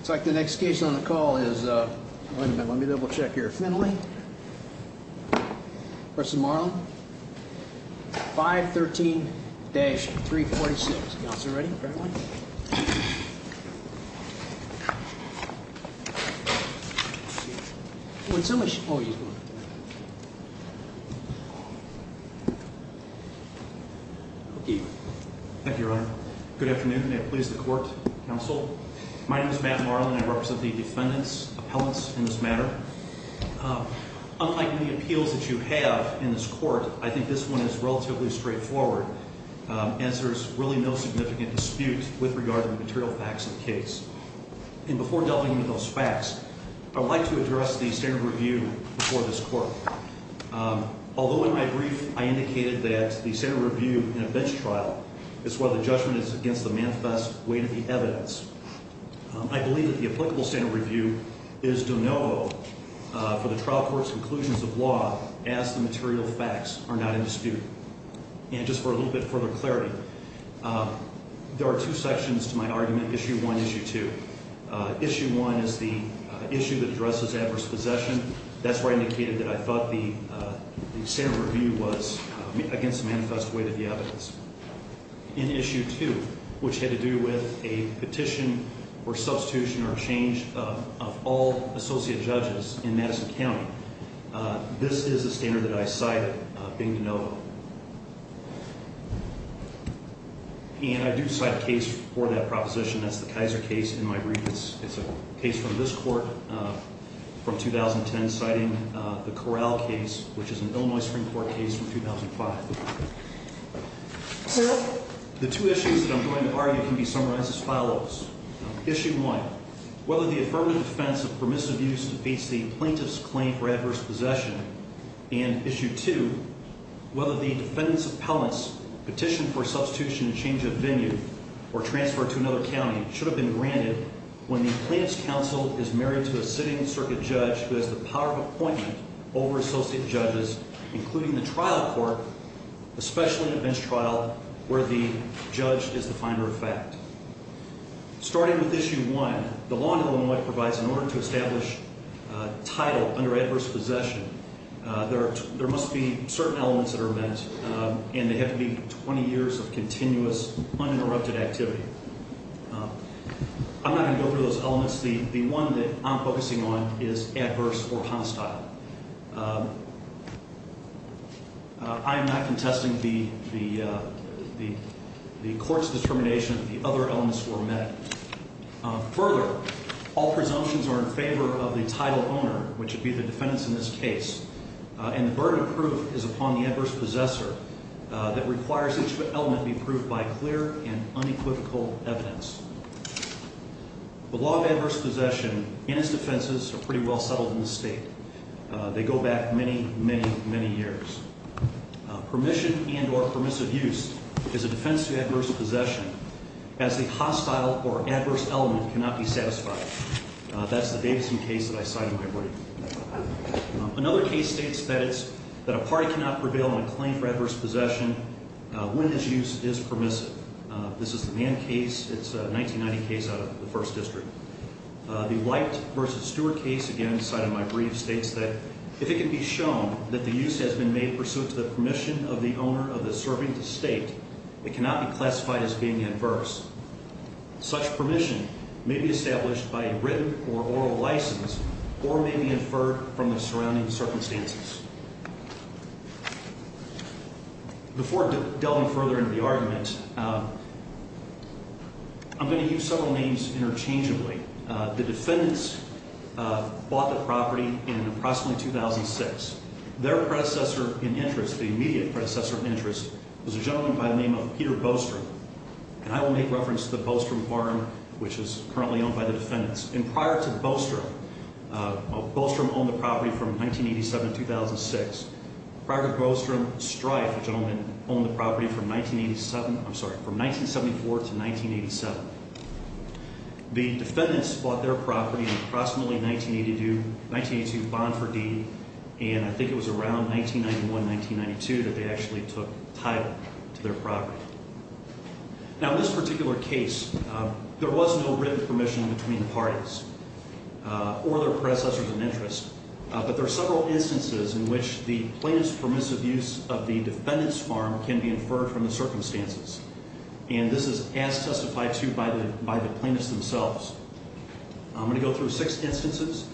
It's like the next case on the call is, uh, let me double check here, Finley v. Marlen, 513-346. Counselor ready? Good afternoon, may it please the court, counsel. My name is Matt Marlen, I represent the defendants, appellants in this matter. Unlike many appeals that you have in this court, I think this one is relatively straightforward, as there's really no significant dispute with regard to the material facts of the case. And before delving into those facts, I would like to address the standard review before this court. Although in my brief I indicated that the standard review in a bench trial is where the judgment is against the manifest weight of the evidence, I believe that the applicable standard review is de novo for the trial court's conclusions of law as the material facts are not in dispute. And just for a little bit further clarity, there are two sections to my argument, Issue 1 and Issue 2. Issue 1 is the issue that addresses adverse possession. That's where I indicated that I thought the standard review was against the manifest weight of the evidence. In Issue 2, which had to do with a petition or substitution or change of all associate judges in Madison County, this is the standard that I cited being de novo. And I do cite a case for that proposition. That's the Kaiser case in my brief. It's a case from this court from 2010 citing the Corral case, which is an Illinois Supreme Court case from 2005. The two issues that I'm going to argue can be summarized as follows. Issue 1, whether the affirmative defense of permissive use defeats the plaintiff's claim for adverse possession. And Issue 2, whether the defendant's appellant's petition for substitution and change of venue or transfer to another county should have been granted when the plaintiff's counsel is married to a sitting circuit judge who has the power of appointment over associate judges, including the trial court, especially in a bench trial where the judge is the finder of fact. Starting with Issue 1, the law in Illinois provides, in order to establish title under adverse possession, there must be certain elements that are met, and they have to be 20 years of continuous, uninterrupted activity. I'm not going to go through those elements. The one that I'm focusing on is adverse or hostile. I am not contesting the court's determination that the other elements were met. Further, all presumptions are in favor of the title owner, which would be the defendants in this case, and the burden of proof is upon the adverse possessor that requires each element be proved by clear and unequivocal evidence. The law of adverse possession and its defenses are pretty well settled in the state. They go back many, many, many years. Permission and or permissive use is a defense to adverse possession as the hostile or adverse element cannot be satisfied. That's the Davidson case that I cited in my writing. Another case states that a party cannot prevail in a claim for adverse possession when its use is permissive. This is the Mann case. It's a 1990 case out of the First District. The White v. Stewart case, again, cited in my brief, states that if it can be shown that the use has been made pursuant to the permission of the owner of the serving estate, it cannot be classified as being adverse. Such permission may be established by a written or oral license or may be inferred from the surrounding circumstances. Before delving further into the argument, I'm going to use several names interchangeably. The defendants bought the property in approximately 2006. Their predecessor in interest, the immediate predecessor of interest, was a gentleman by the name of Peter Bostrom, and I will make reference to the Bostrom Farm, which is currently owned by the defendants. And prior to Bostrom, Bostrom owned the property from 1987 to 2006. Prior to Bostrom, Strife, a gentleman, owned the property from 1974 to 1987. The defendants bought their property in approximately 1982, bond for deed, and I think it was around 1991, 1992 that they actually took title to their property. Now, in this particular case, there was no written permission between the parties or their predecessors in interest. But there are several instances in which the plaintiff's permissive use of the defendant's farm can be inferred from the circumstances. And this is as testified to by the plaintiffs themselves. I'm going to go through six instances.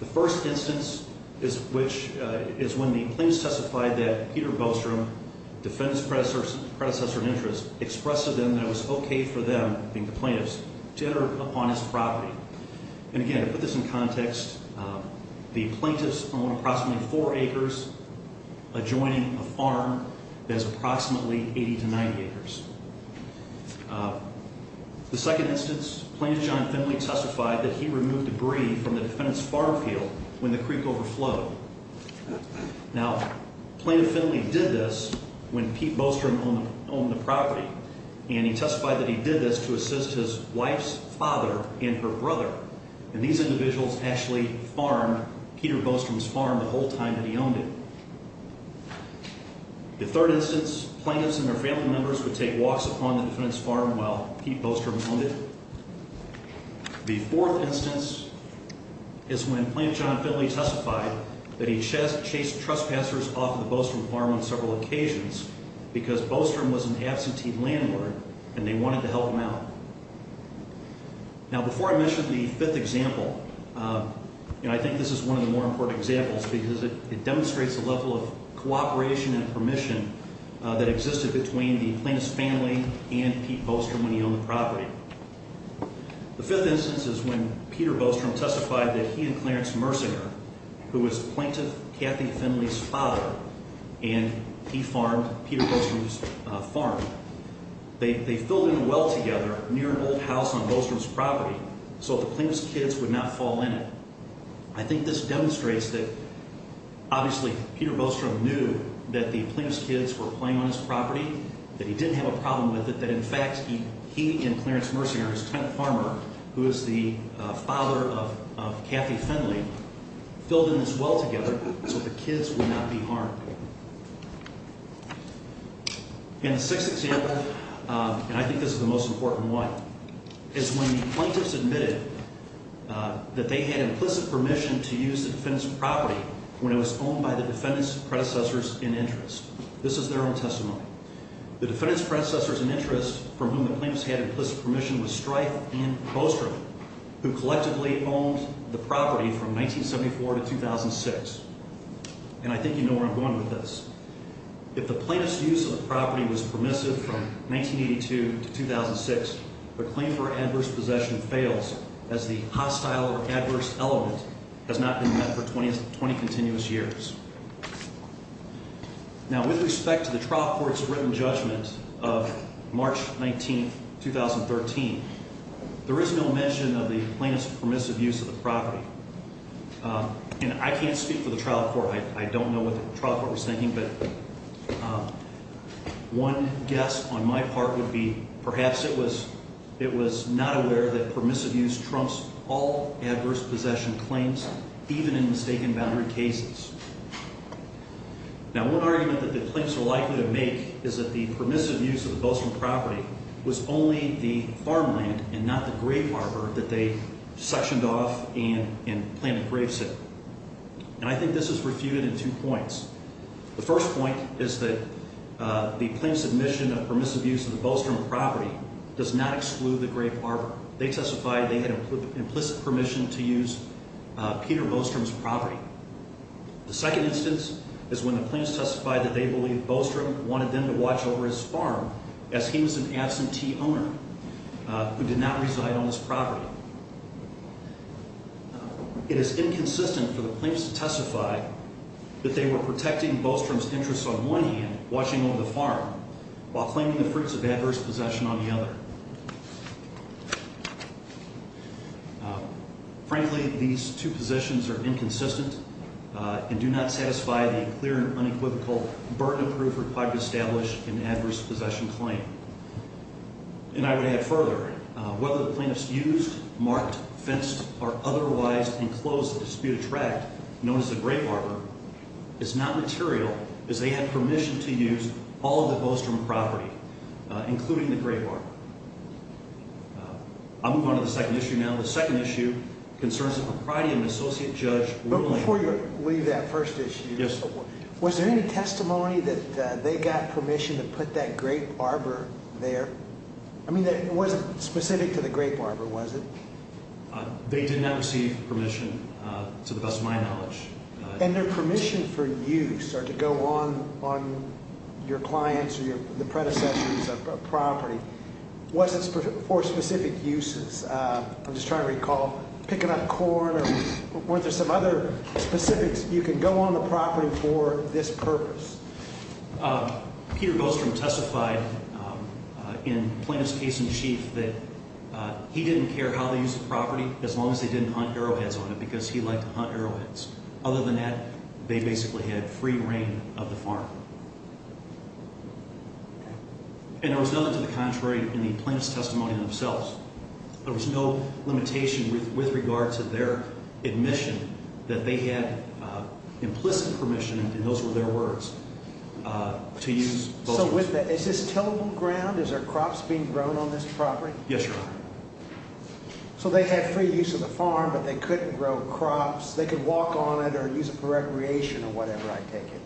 The first instance is when the plaintiffs testified that Peter Bostrom, defendant's predecessor in interest, expressed to them that it was okay for them, being the plaintiffs, to enter upon his property. And again, to put this in context, the plaintiffs owned approximately four acres adjoining a farm that is approximately 80 to 90 acres. The second instance, Plaintiff John Finley testified that he removed debris from the defendant's farm field when the creek overflowed. Now, Plaintiff Finley did this when Pete Bostrom owned the property. And he testified that he did this to assist his wife's father and her brother. And these individuals actually farmed Peter Bostrom's farm the whole time that he owned it. The third instance, plaintiffs and their family members would take walks upon the defendant's farm while Pete Bostrom owned it. The fourth instance is when Plaintiff John Finley testified that he chased trespassers off of the Bostrom farm on several occasions because Bostrom was an absentee landlord and they wanted to help him out. Now, before I mention the fifth example, I think this is one of the more important examples because it demonstrates the level of cooperation and permission that existed between the plaintiff's family and Pete Bostrom when he owned the property. The fifth instance is when Peter Bostrom testified that he and Clarence Mersinger, who was Plaintiff Kathy Finley's father, and he farmed Peter Bostrom's farm. They filled in a well together near an old house on Bostrom's property so that the plaintiff's kids would not fall in it. I think this demonstrates that obviously Peter Bostrom knew that the plaintiff's kids were playing on his property, that he didn't have a problem with it, that in fact he and Clarence Mersinger, his tent farmer, who is the father of Kathy Finley, filled in this well together so that the kids would not be harmed. And the sixth example, and I think this is the most important one, is when the plaintiffs admitted that they had implicit permission to use the defendant's property when it was owned by the defendant's predecessors in interest. This is their own testimony. The defendant's predecessors in interest from whom the plaintiffs had implicit permission was Strife and Bostrom, who collectively owned the property from 1974 to 2006. And I think you know where I'm going with this. If the plaintiff's use of the property was permissive from 1982 to 2006, the claim for adverse possession fails as the hostile or adverse element has not been met for 20 continuous years. Now, with respect to the trial court's written judgment of March 19, 2013, there is no mention of the plaintiff's permissive use of the property. And I can't speak for the trial court. I don't know what the trial court was thinking, but one guess on my part would be perhaps it was not aware that permissive use trumps all adverse possession claims, even in mistaken boundary cases. Now, one argument that the plaintiffs were likely to make is that the permissive use of the Bostrom property was only the farmland and not the grave arbor that they sectioned off and planted graves in. And I think this is refuted in two points. The first point is that the plaintiff's admission of permissive use of the Bostrom property does not exclude the grave arbor. They testified they had implicit permission to use Peter Bostrom's property. The second instance is when the plaintiffs testified that they believed Bostrom wanted them to watch over his farm as he was an absentee owner who did not reside on this property. It is inconsistent for the plaintiffs to testify that they were protecting Bostrom's interests on one hand, watching over the farm, while claiming the fruits of adverse possession on the other. Frankly, these two positions are inconsistent and do not satisfy the clear and unequivocal burden of proof required to establish an adverse possession claim. And I would add further, whether the plaintiffs used, marked, fenced, or otherwise enclosed the disputed tract known as the grave arbor is not material as they had permission to use all of the Bostrom property, including the grave arbor. I'll move on to the second issue now. The second issue concerns the propriety of an associate judge. Before you leave that first issue, was there any testimony that they got permission to put that grave arbor there? I mean, it wasn't specific to the grave arbor, was it? They did not receive permission, to the best of my knowledge. And their permission for use, or to go on your client's or the predecessor's property, was it for specific uses? I'm just trying to recall, picking up corn, or were there some other specifics, you can go on the property for this purpose? Peter Bostrom testified in Plaintiff's case in chief that he didn't care how they used the property as long as they didn't hunt arrowheads on it, because he liked to hunt arrowheads. Other than that, they basically had free reign of the farm. And there was nothing to the contrary in the plaintiff's testimony themselves. There was no limitation with regard to their admission that they had implicit permission, and those were their words, to use those woods. So is this tillable ground? Is there crops being grown on this property? Yes, Your Honor. So they had free use of the farm, but they couldn't grow crops. They could walk on it or use it for recreation or whatever, I take it.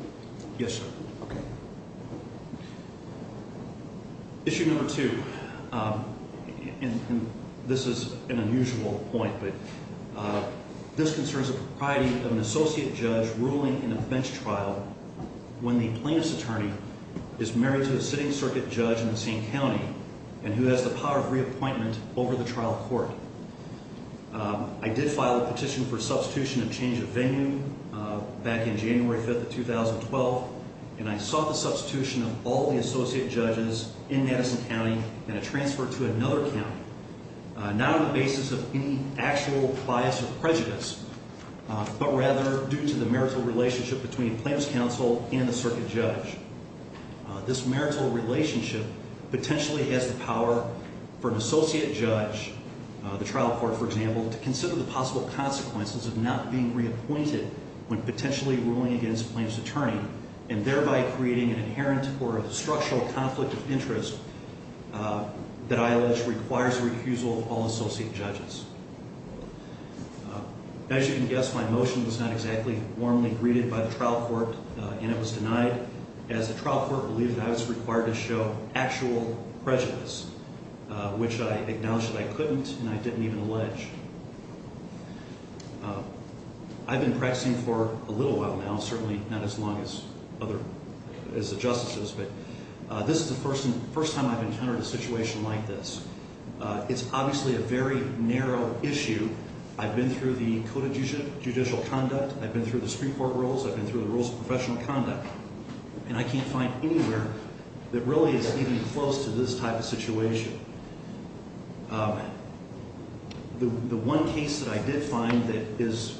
Yes, sir. Okay. Issue number two. And this is an unusual point, but this concerns the propriety of an associate judge ruling in a bench trial when the plaintiff's attorney is married to a sitting circuit judge in the same county and who has the power of reappointment over the trial court. I did file a petition for substitution and change of venue back in January 5th of 2012, and I sought the substitution of all the associate judges in Madison County and a transfer to another county, not on the basis of any actual bias or prejudice, but rather due to the marital relationship between the plaintiff's counsel and the circuit judge. This marital relationship potentially has the power for an associate judge, the trial court, for example, to consider the possible consequences of not being reappointed when potentially ruling against a plaintiff's attorney and thereby creating an inherent or a structural conflict of interest that I allege requires the recusal of all associate judges. As you can guess, my motion was not exactly warmly greeted by the trial court, and it was denied as the trial court believed I was required to show actual prejudice, which I acknowledged that I couldn't and I didn't even allege. I've been practicing for a little while now, certainly not as long as the justices, but this is the first time I've encountered a situation like this. It's obviously a very narrow issue. I've been through the code of judicial conduct. I've been through the Supreme Court rules. I've been through the rules of professional conduct, and I can't find anywhere that really is even close to this type of situation. The one case that I did find that is,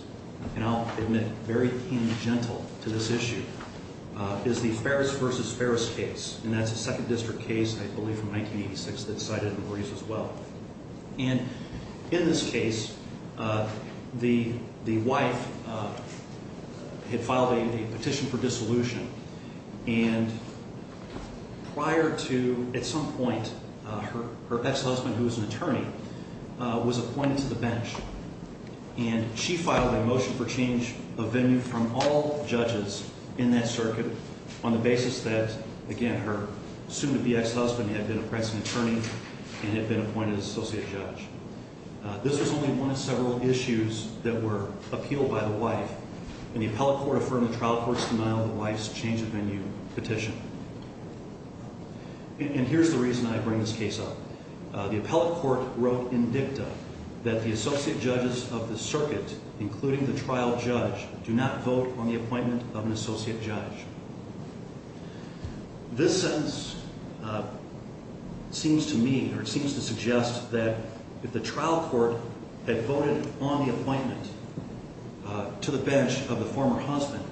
and I'll admit, very tangential to this issue is the Ferris v. Ferris case, and that's a Second District case I believe from 1986 that cited Maurice as well. And in this case, the wife had filed a petition for dissolution, and prior to, at some point, her ex-husband, who was an attorney, was appointed to the bench. And she filed a motion for change of venue from all judges in that circuit on the basis that, again, her soon-to-be ex-husband had been a present attorney and had been appointed as associate judge. This was only one of several issues that were appealed by the wife, and the appellate court affirmed the trial court's denial of the wife's change of venue petition. And here's the reason I bring this case up. The appellate court wrote in dicta that the associate judges of the circuit, including the trial judge, do not vote on the appointment of an associate judge. This sentence seems to suggest that if the trial court had voted on the appointment to the bench of the former husband,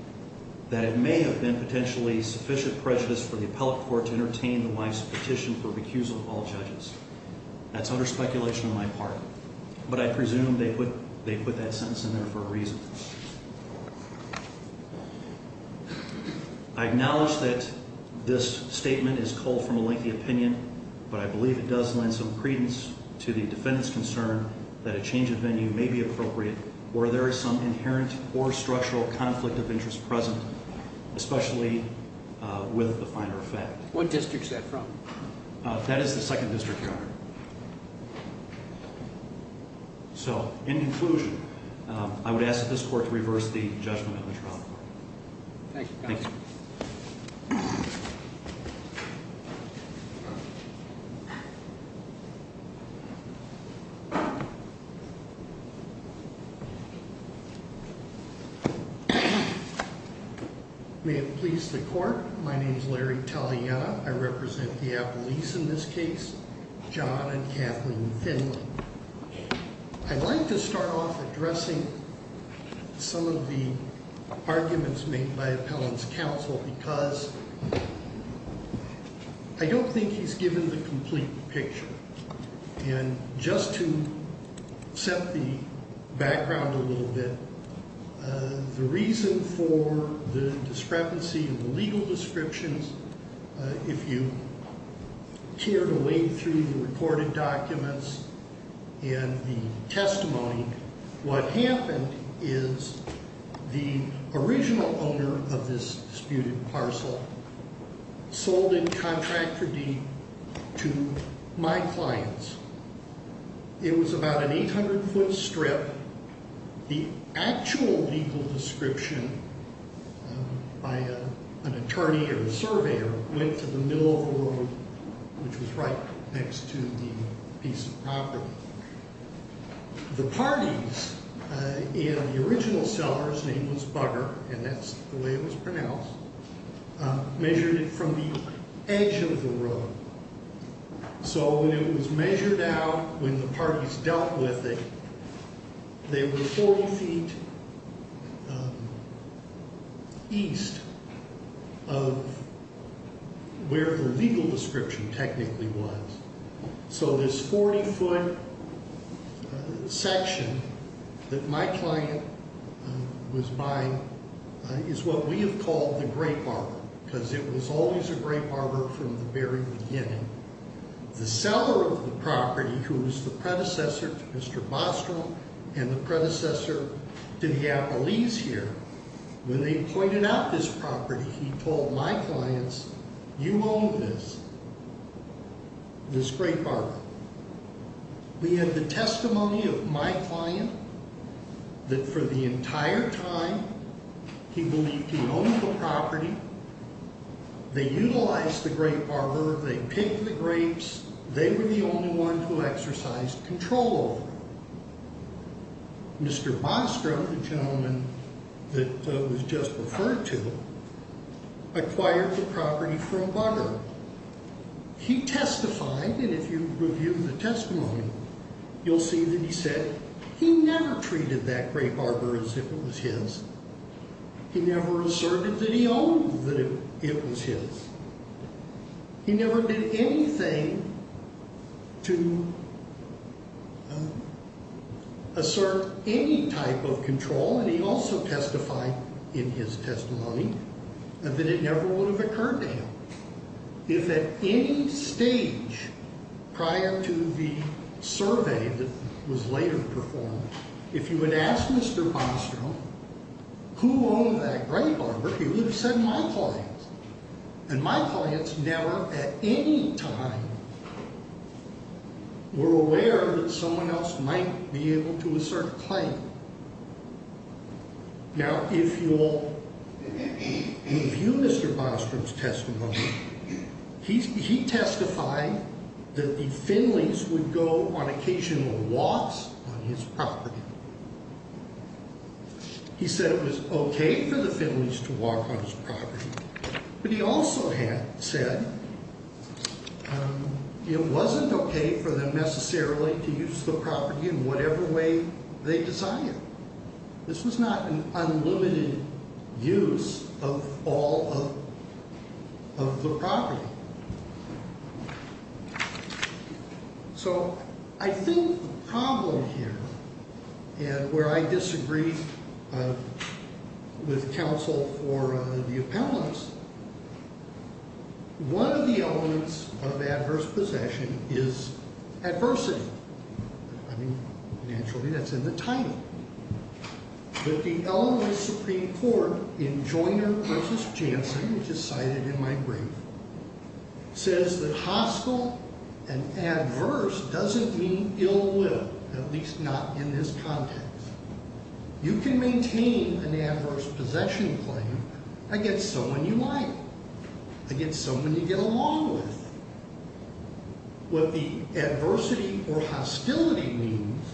that it may have been potentially sufficient prejudice for the appellate court to entertain the wife's petition for recusal of all judges. That's utter speculation on my part, but I presume they put that sentence in there for a reason. I acknowledge that this statement is culled from a lengthy opinion, but I believe it does lend some credence to the defendant's concern that a change of venue may be appropriate where there is some inherent or structural conflict of interest present, especially with the finer effect. What district is that from? That is the 2nd District, Your Honor. So, in conclusion, I would ask that this court reverse the judgment of the trial court. Thank you, guys. May it please the court, my name is Larry Taliana. I represent the appellees in this case, John and Kathleen Finley. I'd like to start off addressing some of the arguments made by Appellant's counsel because I don't think he's given the complete picture. And just to set the background a little bit, the reason for the discrepancy in the legal descriptions, if you care to wade through the recorded documents and the testimony, what happened is the original owner of this disputed parcel sold in contractor D to my clients. It was about an 800 foot strip. The actual legal description by an attorney or a surveyor went to the middle of the road, which was right next to the piece of property. The parties in the original seller's name was Bugger, and that's the way it was pronounced, measured it from the edge of the road. So when it was measured out, when the parties dealt with it, they were 40 feet east of where the legal description technically was. So this 40 foot section that my client was buying is what we have called the grape arbor, because it was always a grape arbor from the very beginning. The seller of the property, who was the predecessor to Mr. Bostrom and the predecessor to the appellees here, when they pointed out this property, he told my clients, you own this, this grape arbor. We have the testimony of my client that for the entire time he believed he owned the property. They utilized the grape arbor, they picked the grapes, they were the only ones who exercised control over it. Mr. Bostrom, the gentleman that was just referred to, acquired the property from Bugger. He testified, and if you review the testimony, you'll see that he said he never treated that grape arbor as if it was his. He never asserted that he owned it, that it was his. He never did anything to assert any type of control, and he also testified in his testimony that it never would have occurred to him. If at any stage prior to the survey that was later performed, if you had asked Mr. Bostrom who owned that grape arbor, he would have said my client. My clients never at any time were aware that someone else might be able to assert a claim. Now, if you'll review Mr. Bostrom's testimony, he testified that the Finleys would go on occasional walks on his property. He said it was okay for the Finleys to walk on his property, but he also had said it wasn't okay for them necessarily to use the property in whatever way they desired. This was not an unlimited use of all of the property. So I think the problem here, and where I disagree with counsel for the appellants, one of the elements of adverse possession is adversity. I mean, naturally, that's in the title. But the Illinois Supreme Court in Joyner v. Jansen, which is cited in my brief, says that hostile and adverse doesn't mean ill will, at least not in this context. You can maintain an adverse possession claim against someone you like, against someone you get along with. What the adversity or hostility means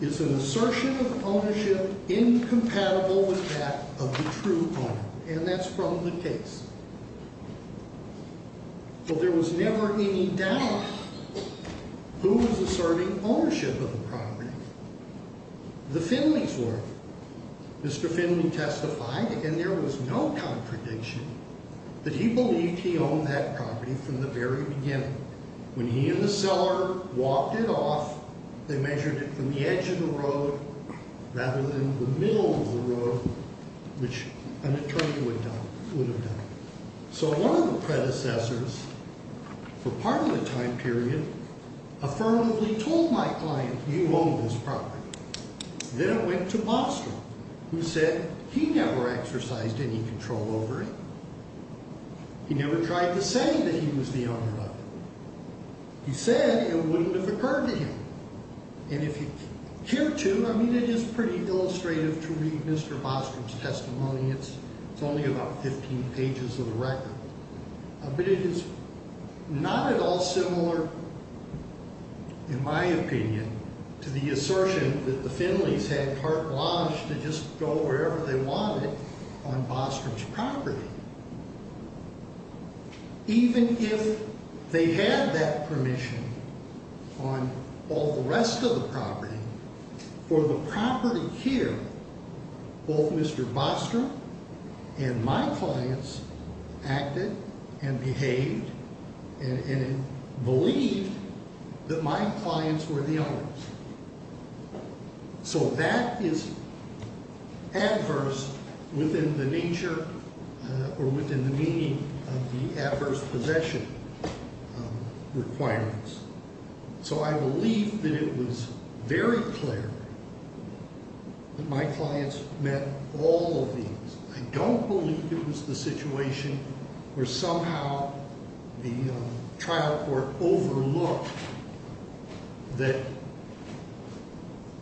is an assertion of ownership incompatible with that of the true owner, and that's from the case. But there was never any doubt who was asserting ownership of the property. The Finleys were. Mr. Finley testified, and there was no contradiction, that he believed he owned that property from the very beginning. When he and the seller walked it off, they measured it from the edge of the road rather than the middle of the road, which an attorney would have done. So one of the predecessors, for part of the time period, affirmatively told my client he owned this property. Then it went to Bostrom, who said he never exercised any control over it. He never tried to say that he was the owner of it. He said it wouldn't have occurred to him. And if you care to, I mean, it is pretty illustrative to read Mr. Bostrom's testimony. It's only about 15 pages of the record. But it is not at all similar, in my opinion, to the assertion that the Finleys had carte blanche to just go wherever they wanted on Bostrom's property. Even if they had that permission on all the rest of the property, for the property here, both Mr. Bostrom and my clients acted and behaved and believed that my clients were the owners. So that is adverse within the nature or within the meaning of the adverse possession requirements. So I believe that it was very clear that my clients met all of these. I don't believe it was the situation where somehow the trial court overlooked that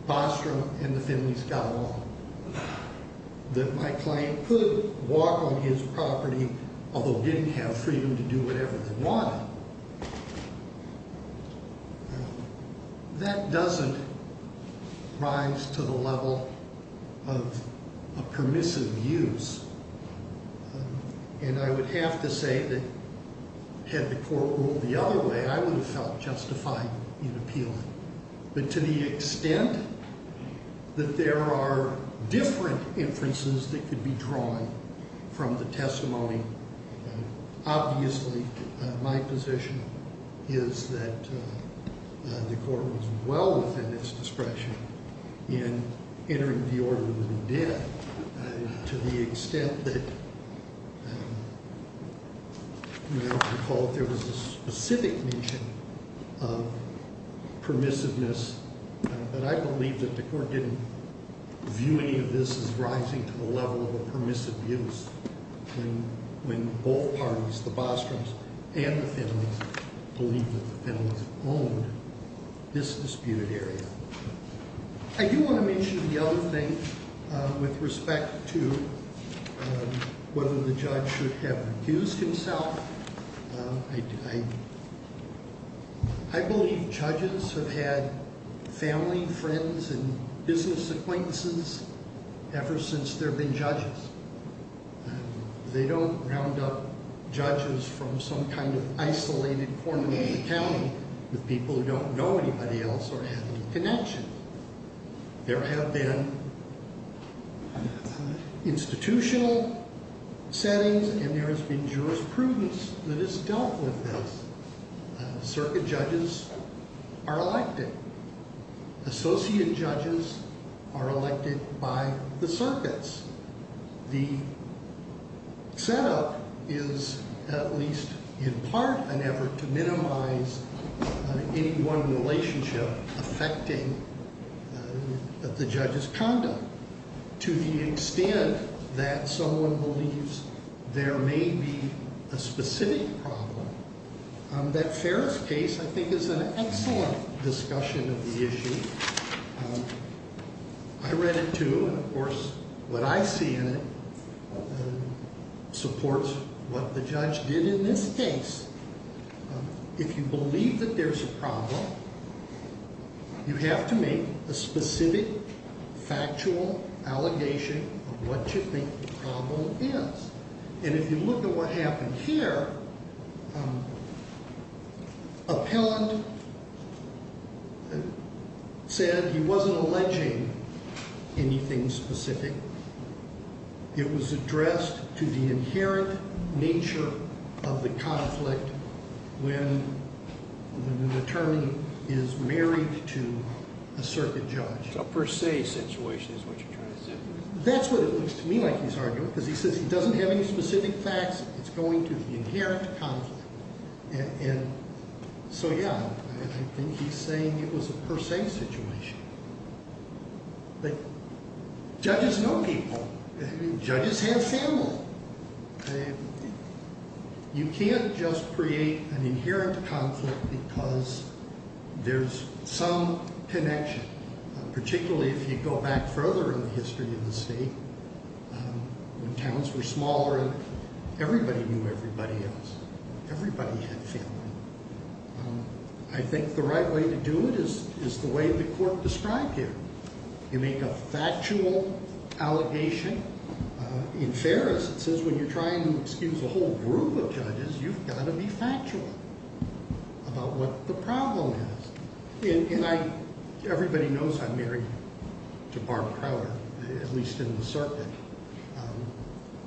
Bostrom and the Finleys got along. That my client could walk on his property, although didn't have freedom to do whatever they wanted. Now, that doesn't rise to the level of a permissive use. And I would have to say that had the court ruled the other way, I would have felt justified in appealing. But to the extent that there are different inferences that could be drawn from the testimony, obviously my position is that the court was well within its discretion in entering the order that it did. To the extent that, if you recall, there was a specific mention of permissiveness. But I believe that the court didn't view any of this as rising to the level of a permissive use. When both parties, the Bostroms and the Finleys, believe that the Finleys owned this disputed area. I do want to mention the other thing with respect to whether the judge should have recused himself. I believe judges have had family, friends, and business acquaintances ever since there have been judges. They don't round up judges from some kind of isolated corner of the county with people who don't know anybody else or have any connection. There have been institutional settings and there has been jurisprudence that has dealt with this. Circuit judges are elected. The setup is at least in part an effort to minimize any one relationship affecting the judge's conduct. To the extent that someone believes there may be a specific problem. That Ferris case I think is an excellent discussion of the issue. I read it too and of course what I see in it supports what the judge did in this case. If you believe that there is a problem, you have to make a specific factual allegation of what you think the problem is. If you look at what happened here, appellant said he wasn't alleging anything specific. It was addressed to the inherent nature of the conflict when an attorney is married to a circuit judge. A per se situation is what you're trying to say. That's what it looks to me like he's arguing. He says he doesn't have any specific facts. It's going to the inherent conflict. So yeah, I think he's saying it was a per se situation. Judges know people. Judges have family. You can't just create an inherent conflict because there's some connection. Particularly if you go back further in the history of the state, when towns were smaller and everybody knew everybody else. Everybody had family. I think the right way to do it is the way the court described here. You make a factual allegation. In Ferris it says when you're trying to excuse a whole group of judges, you've got to be factual about what the problem is. Everybody knows I'm married to Barb Crowder, at least in the circuit.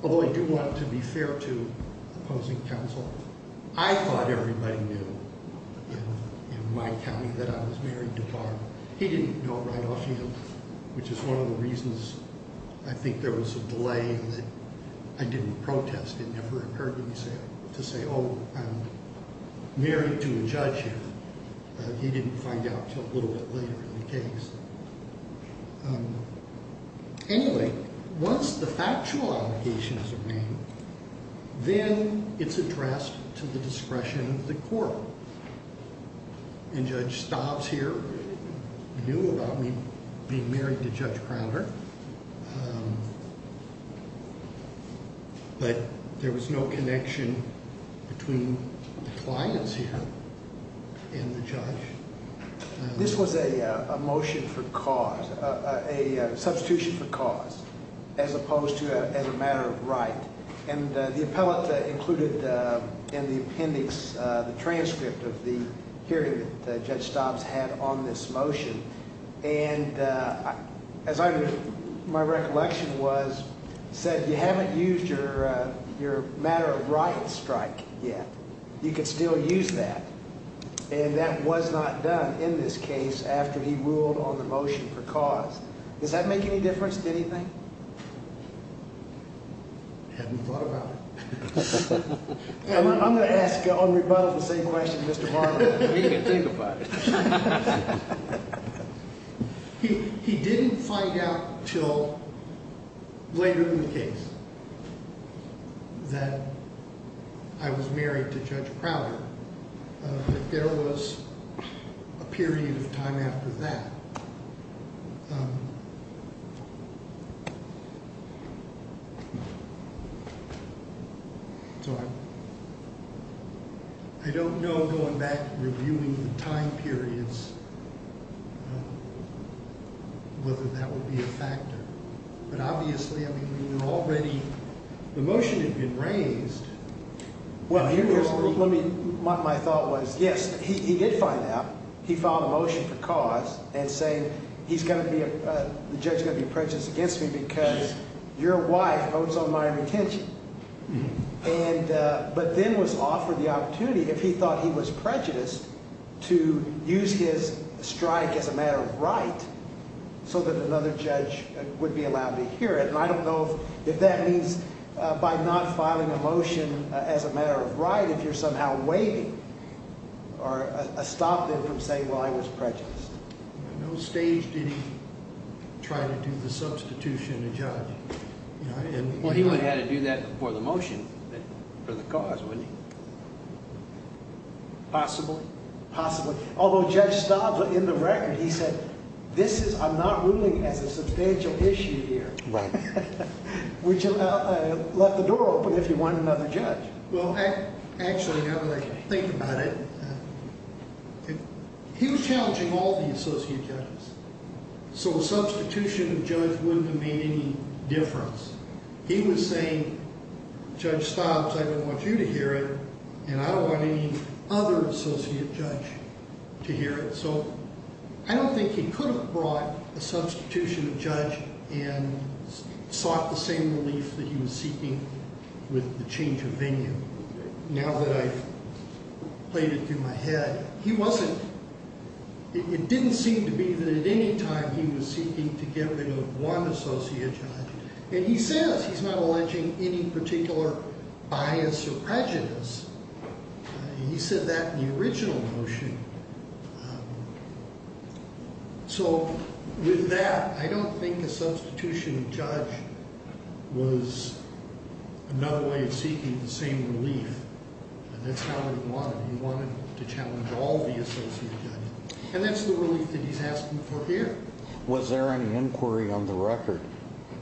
Although I do want to be fair to opposing counsel. I thought everybody knew in my county that I was married to Barb. He didn't know right off the bat, which is one of the reasons I think there was a delay. I didn't protest. It never occurred to me to say, oh, I'm married to a judge here. He didn't find out until a little bit later in the case. Anyway, once the factual allegations are made, then it's addressed to the discretion of the court. And Judge Stobbs here knew about me being married to Judge Crowder. But there was no connection between the clients here and the judge. This was a motion for cause, a substitution for cause, as opposed to as a matter of right. And the appellate included in the appendix the transcript of the hearing that Judge Stobbs had on this motion. And as my recollection was, he said, you haven't used your matter of right strike yet. You can still use that. And that was not done in this case after he ruled on the motion for cause. Does that make any difference to anything? I haven't thought about it. I'm going to ask on rebuttal the same question Mr. Barber has. He didn't think about it. He didn't find out until later in the case that I was married to Judge Crowder. There was a period of time after that. I don't know, going back and reviewing the time periods, whether that would be a factor. But obviously, the motion had been raised. My thought was, yes, he did find out. He filed a motion for cause and said, the judge is going to be prejudiced against me because your wife votes on my retention. But then was offered the opportunity, if he thought he was prejudiced, to use his strike as a matter of right so that another judge would be allowed to hear it. And I don't know if that means by not filing a motion as a matter of right, if you're somehow waiving or stop them from saying, well, I was prejudiced. At no stage did he try to do the substitution to judge. Well, he would have had to do that before the motion for the cause, wouldn't he? Possibly. Although Judge Stobbs, in the record, he said, I'm not ruling as a substantial issue here. Would you let the door open if you wanted another judge? Well, actually, now that I think about it, he was challenging all the associate judges. So a substitution of judge wouldn't have made any difference. He was saying, Judge Stobbs, I don't want you to hear it, and I don't want any other associate judge to hear it. So I don't think he could have brought a substitution of judge and sought the same relief that he was seeking with the change of venue. Now that I've played it through my head, it didn't seem to be that at any time he was seeking to get rid of one associate judge. And he says he's not alleging any particular bias or prejudice. He said that in the original motion. So with that, I don't think a substitution of judge was another way of seeking the same relief. And that's not what he wanted. He wanted to challenge all the associate judges. And that's the relief that he's asking for here. Was there any inquiry on the record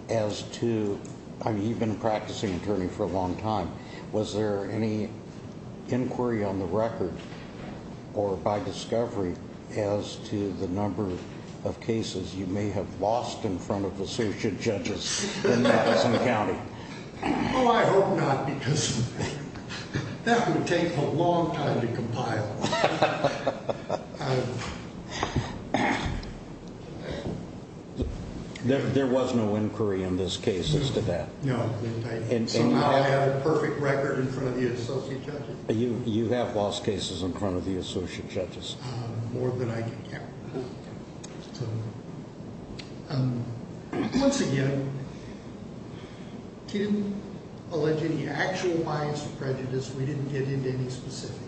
as to, I mean, you've been a practicing attorney for a long time. Was there any inquiry on the record or by discovery as to the number of cases you may have lost in front of associate judges in Madison County? Oh, I hope not, because that would take a long time to compile. There was no inquiry in this case as to that? No, and somehow I have a perfect record in front of the associate judges. You have lost cases in front of the associate judges? More than I can count. Once again, he didn't allege any actual bias or prejudice. We didn't get into any specifics.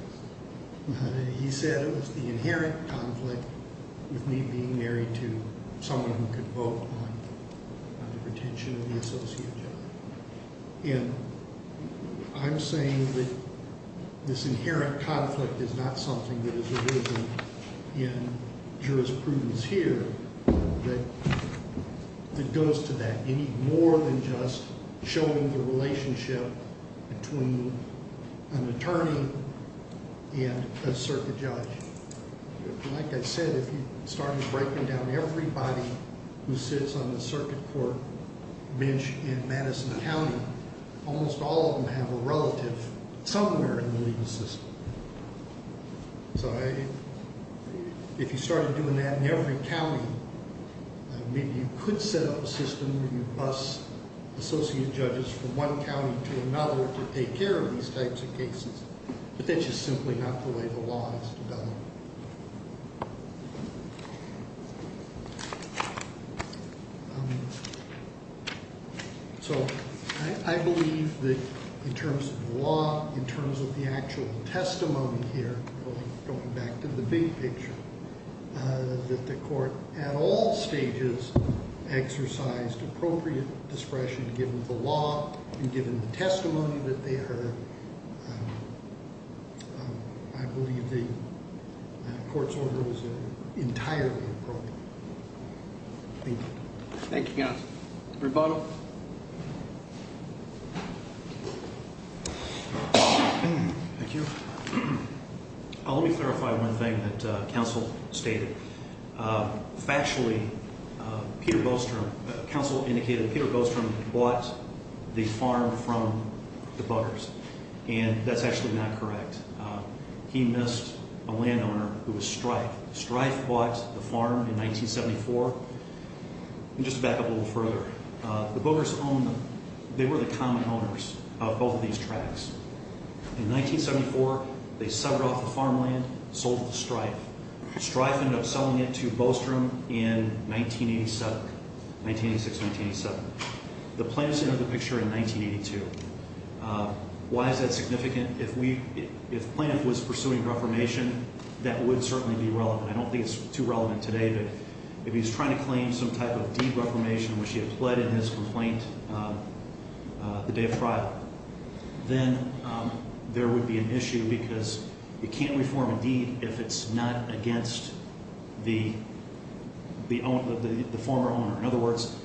He said it was the inherent conflict with me being married to someone who could vote on the retention of the associate judge. And I'm saying that this inherent conflict is not something that is the reason in jurisprudence here that goes to that. You need more than just showing the relationship between an attorney and a circuit judge. Like I said, if you started breaking down everybody who sits on the circuit court bench in Madison County, almost all of them have a relative somewhere in the legal system. So if you started doing that in every county, maybe you could set up a system where you bus associate judges from one county to another to take care of these types of cases. But that's just simply not the way the law is developed. So I believe that in terms of law, in terms of the actual testimony here, going back to the big picture, that the court at all stages exercised appropriate discretion given the law and given the testimony that they heard. I believe the court's order was entirely appropriate. Thank you. Thank you, counsel. Rebuttal. Thank you. Let me clarify one thing that counsel stated. Factually, counsel indicated that Peter Bostrom bought the farm from the Boogers, and that's actually not correct. He missed a landowner who was Strife. Strife bought the farm in 1974. Let me just back up a little further. The Boogers owned them. They were the common owners of both of these tracts. In 1974, they subbed off the farmland, sold it to Strife. Strife ended up selling it to Bostrom in 1987, 1986, 1987. The plaintiff's end of the picture in 1982. Why is that significant? If plaintiff was pursuing reformation, that would certainly be relevant. I don't think it's too relevant today. If he's trying to claim some type of deed reformation, which he had pled in his complaint the day of trial, then there would be an issue because you can't reform a deed if it's not against the former owner. In other words,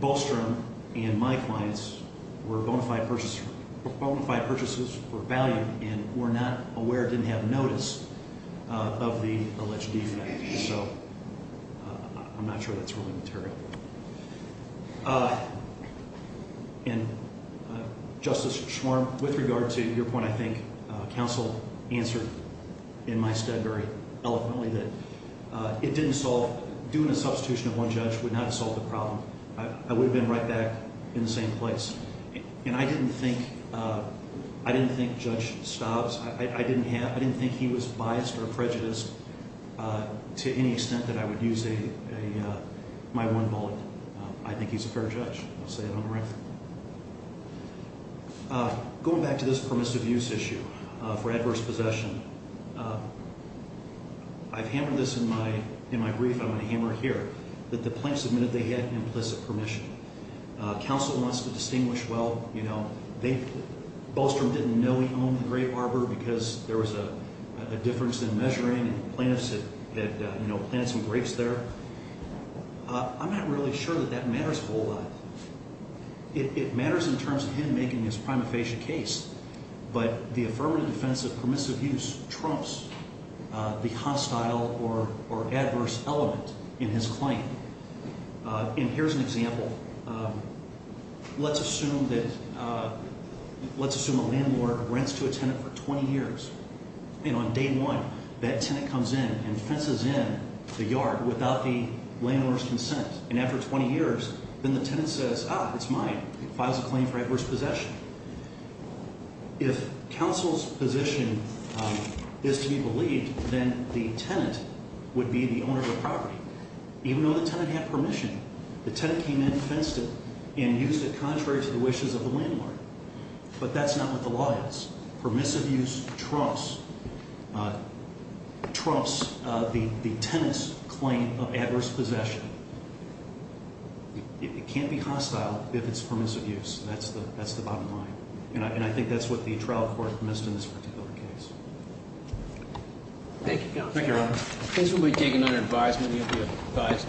Bostrom and my clients were bona fide purchasers for value, and were not aware, didn't have notice of the alleged defect. So, I'm not sure that's really material. And Justice Schwarm, with regard to your point, I think counsel answered in my stead very eloquently that it didn't solve, doing a substitution of one judge would not have solved the problem. I would have been right back in the same place. And I didn't think, I didn't think Judge Stobbs, I didn't think he was biased or prejudiced. To any extent that I would use my one bullet, I think he's a fair judge. I'll say it on the record. Going back to this permissive use issue for adverse possession, I've hammered this in my brief, I'm going to hammer it here, that the plaintiffs admitted they had implicit permission. Counsel wants to distinguish, well, you know, they, Bostrom didn't know he owned the Great Harbor because there was a difference in measuring and the plaintiffs had, you know, planted some grapes there. I'm not really sure that that matters a whole lot. It matters in terms of him making his prima facie case, but the affirmative defense of permissive use trumps the hostile or adverse element in his claim. And here's an example. Let's assume that, let's assume a landlord rents to a tenant for 20 years. And on day one, that tenant comes in and fences in the yard without the landlord's consent. And after 20 years, then the tenant says, ah, it's mine, and files a claim for adverse possession. If counsel's position is to be believed, then the tenant would be the owner of the property. Even though the tenant had permission, the tenant came in, fenced it, and used it contrary to the wishes of the landlord. But that's not what the law is. Permissive use trumps the tenant's claim of adverse possession. It can't be hostile if it's permissive use. That's the bottom line. And I think that's what the trial court missed in this particular case. Thank you, counsel. Thank you, Robert. This will be taken under advisement. You'll be advised.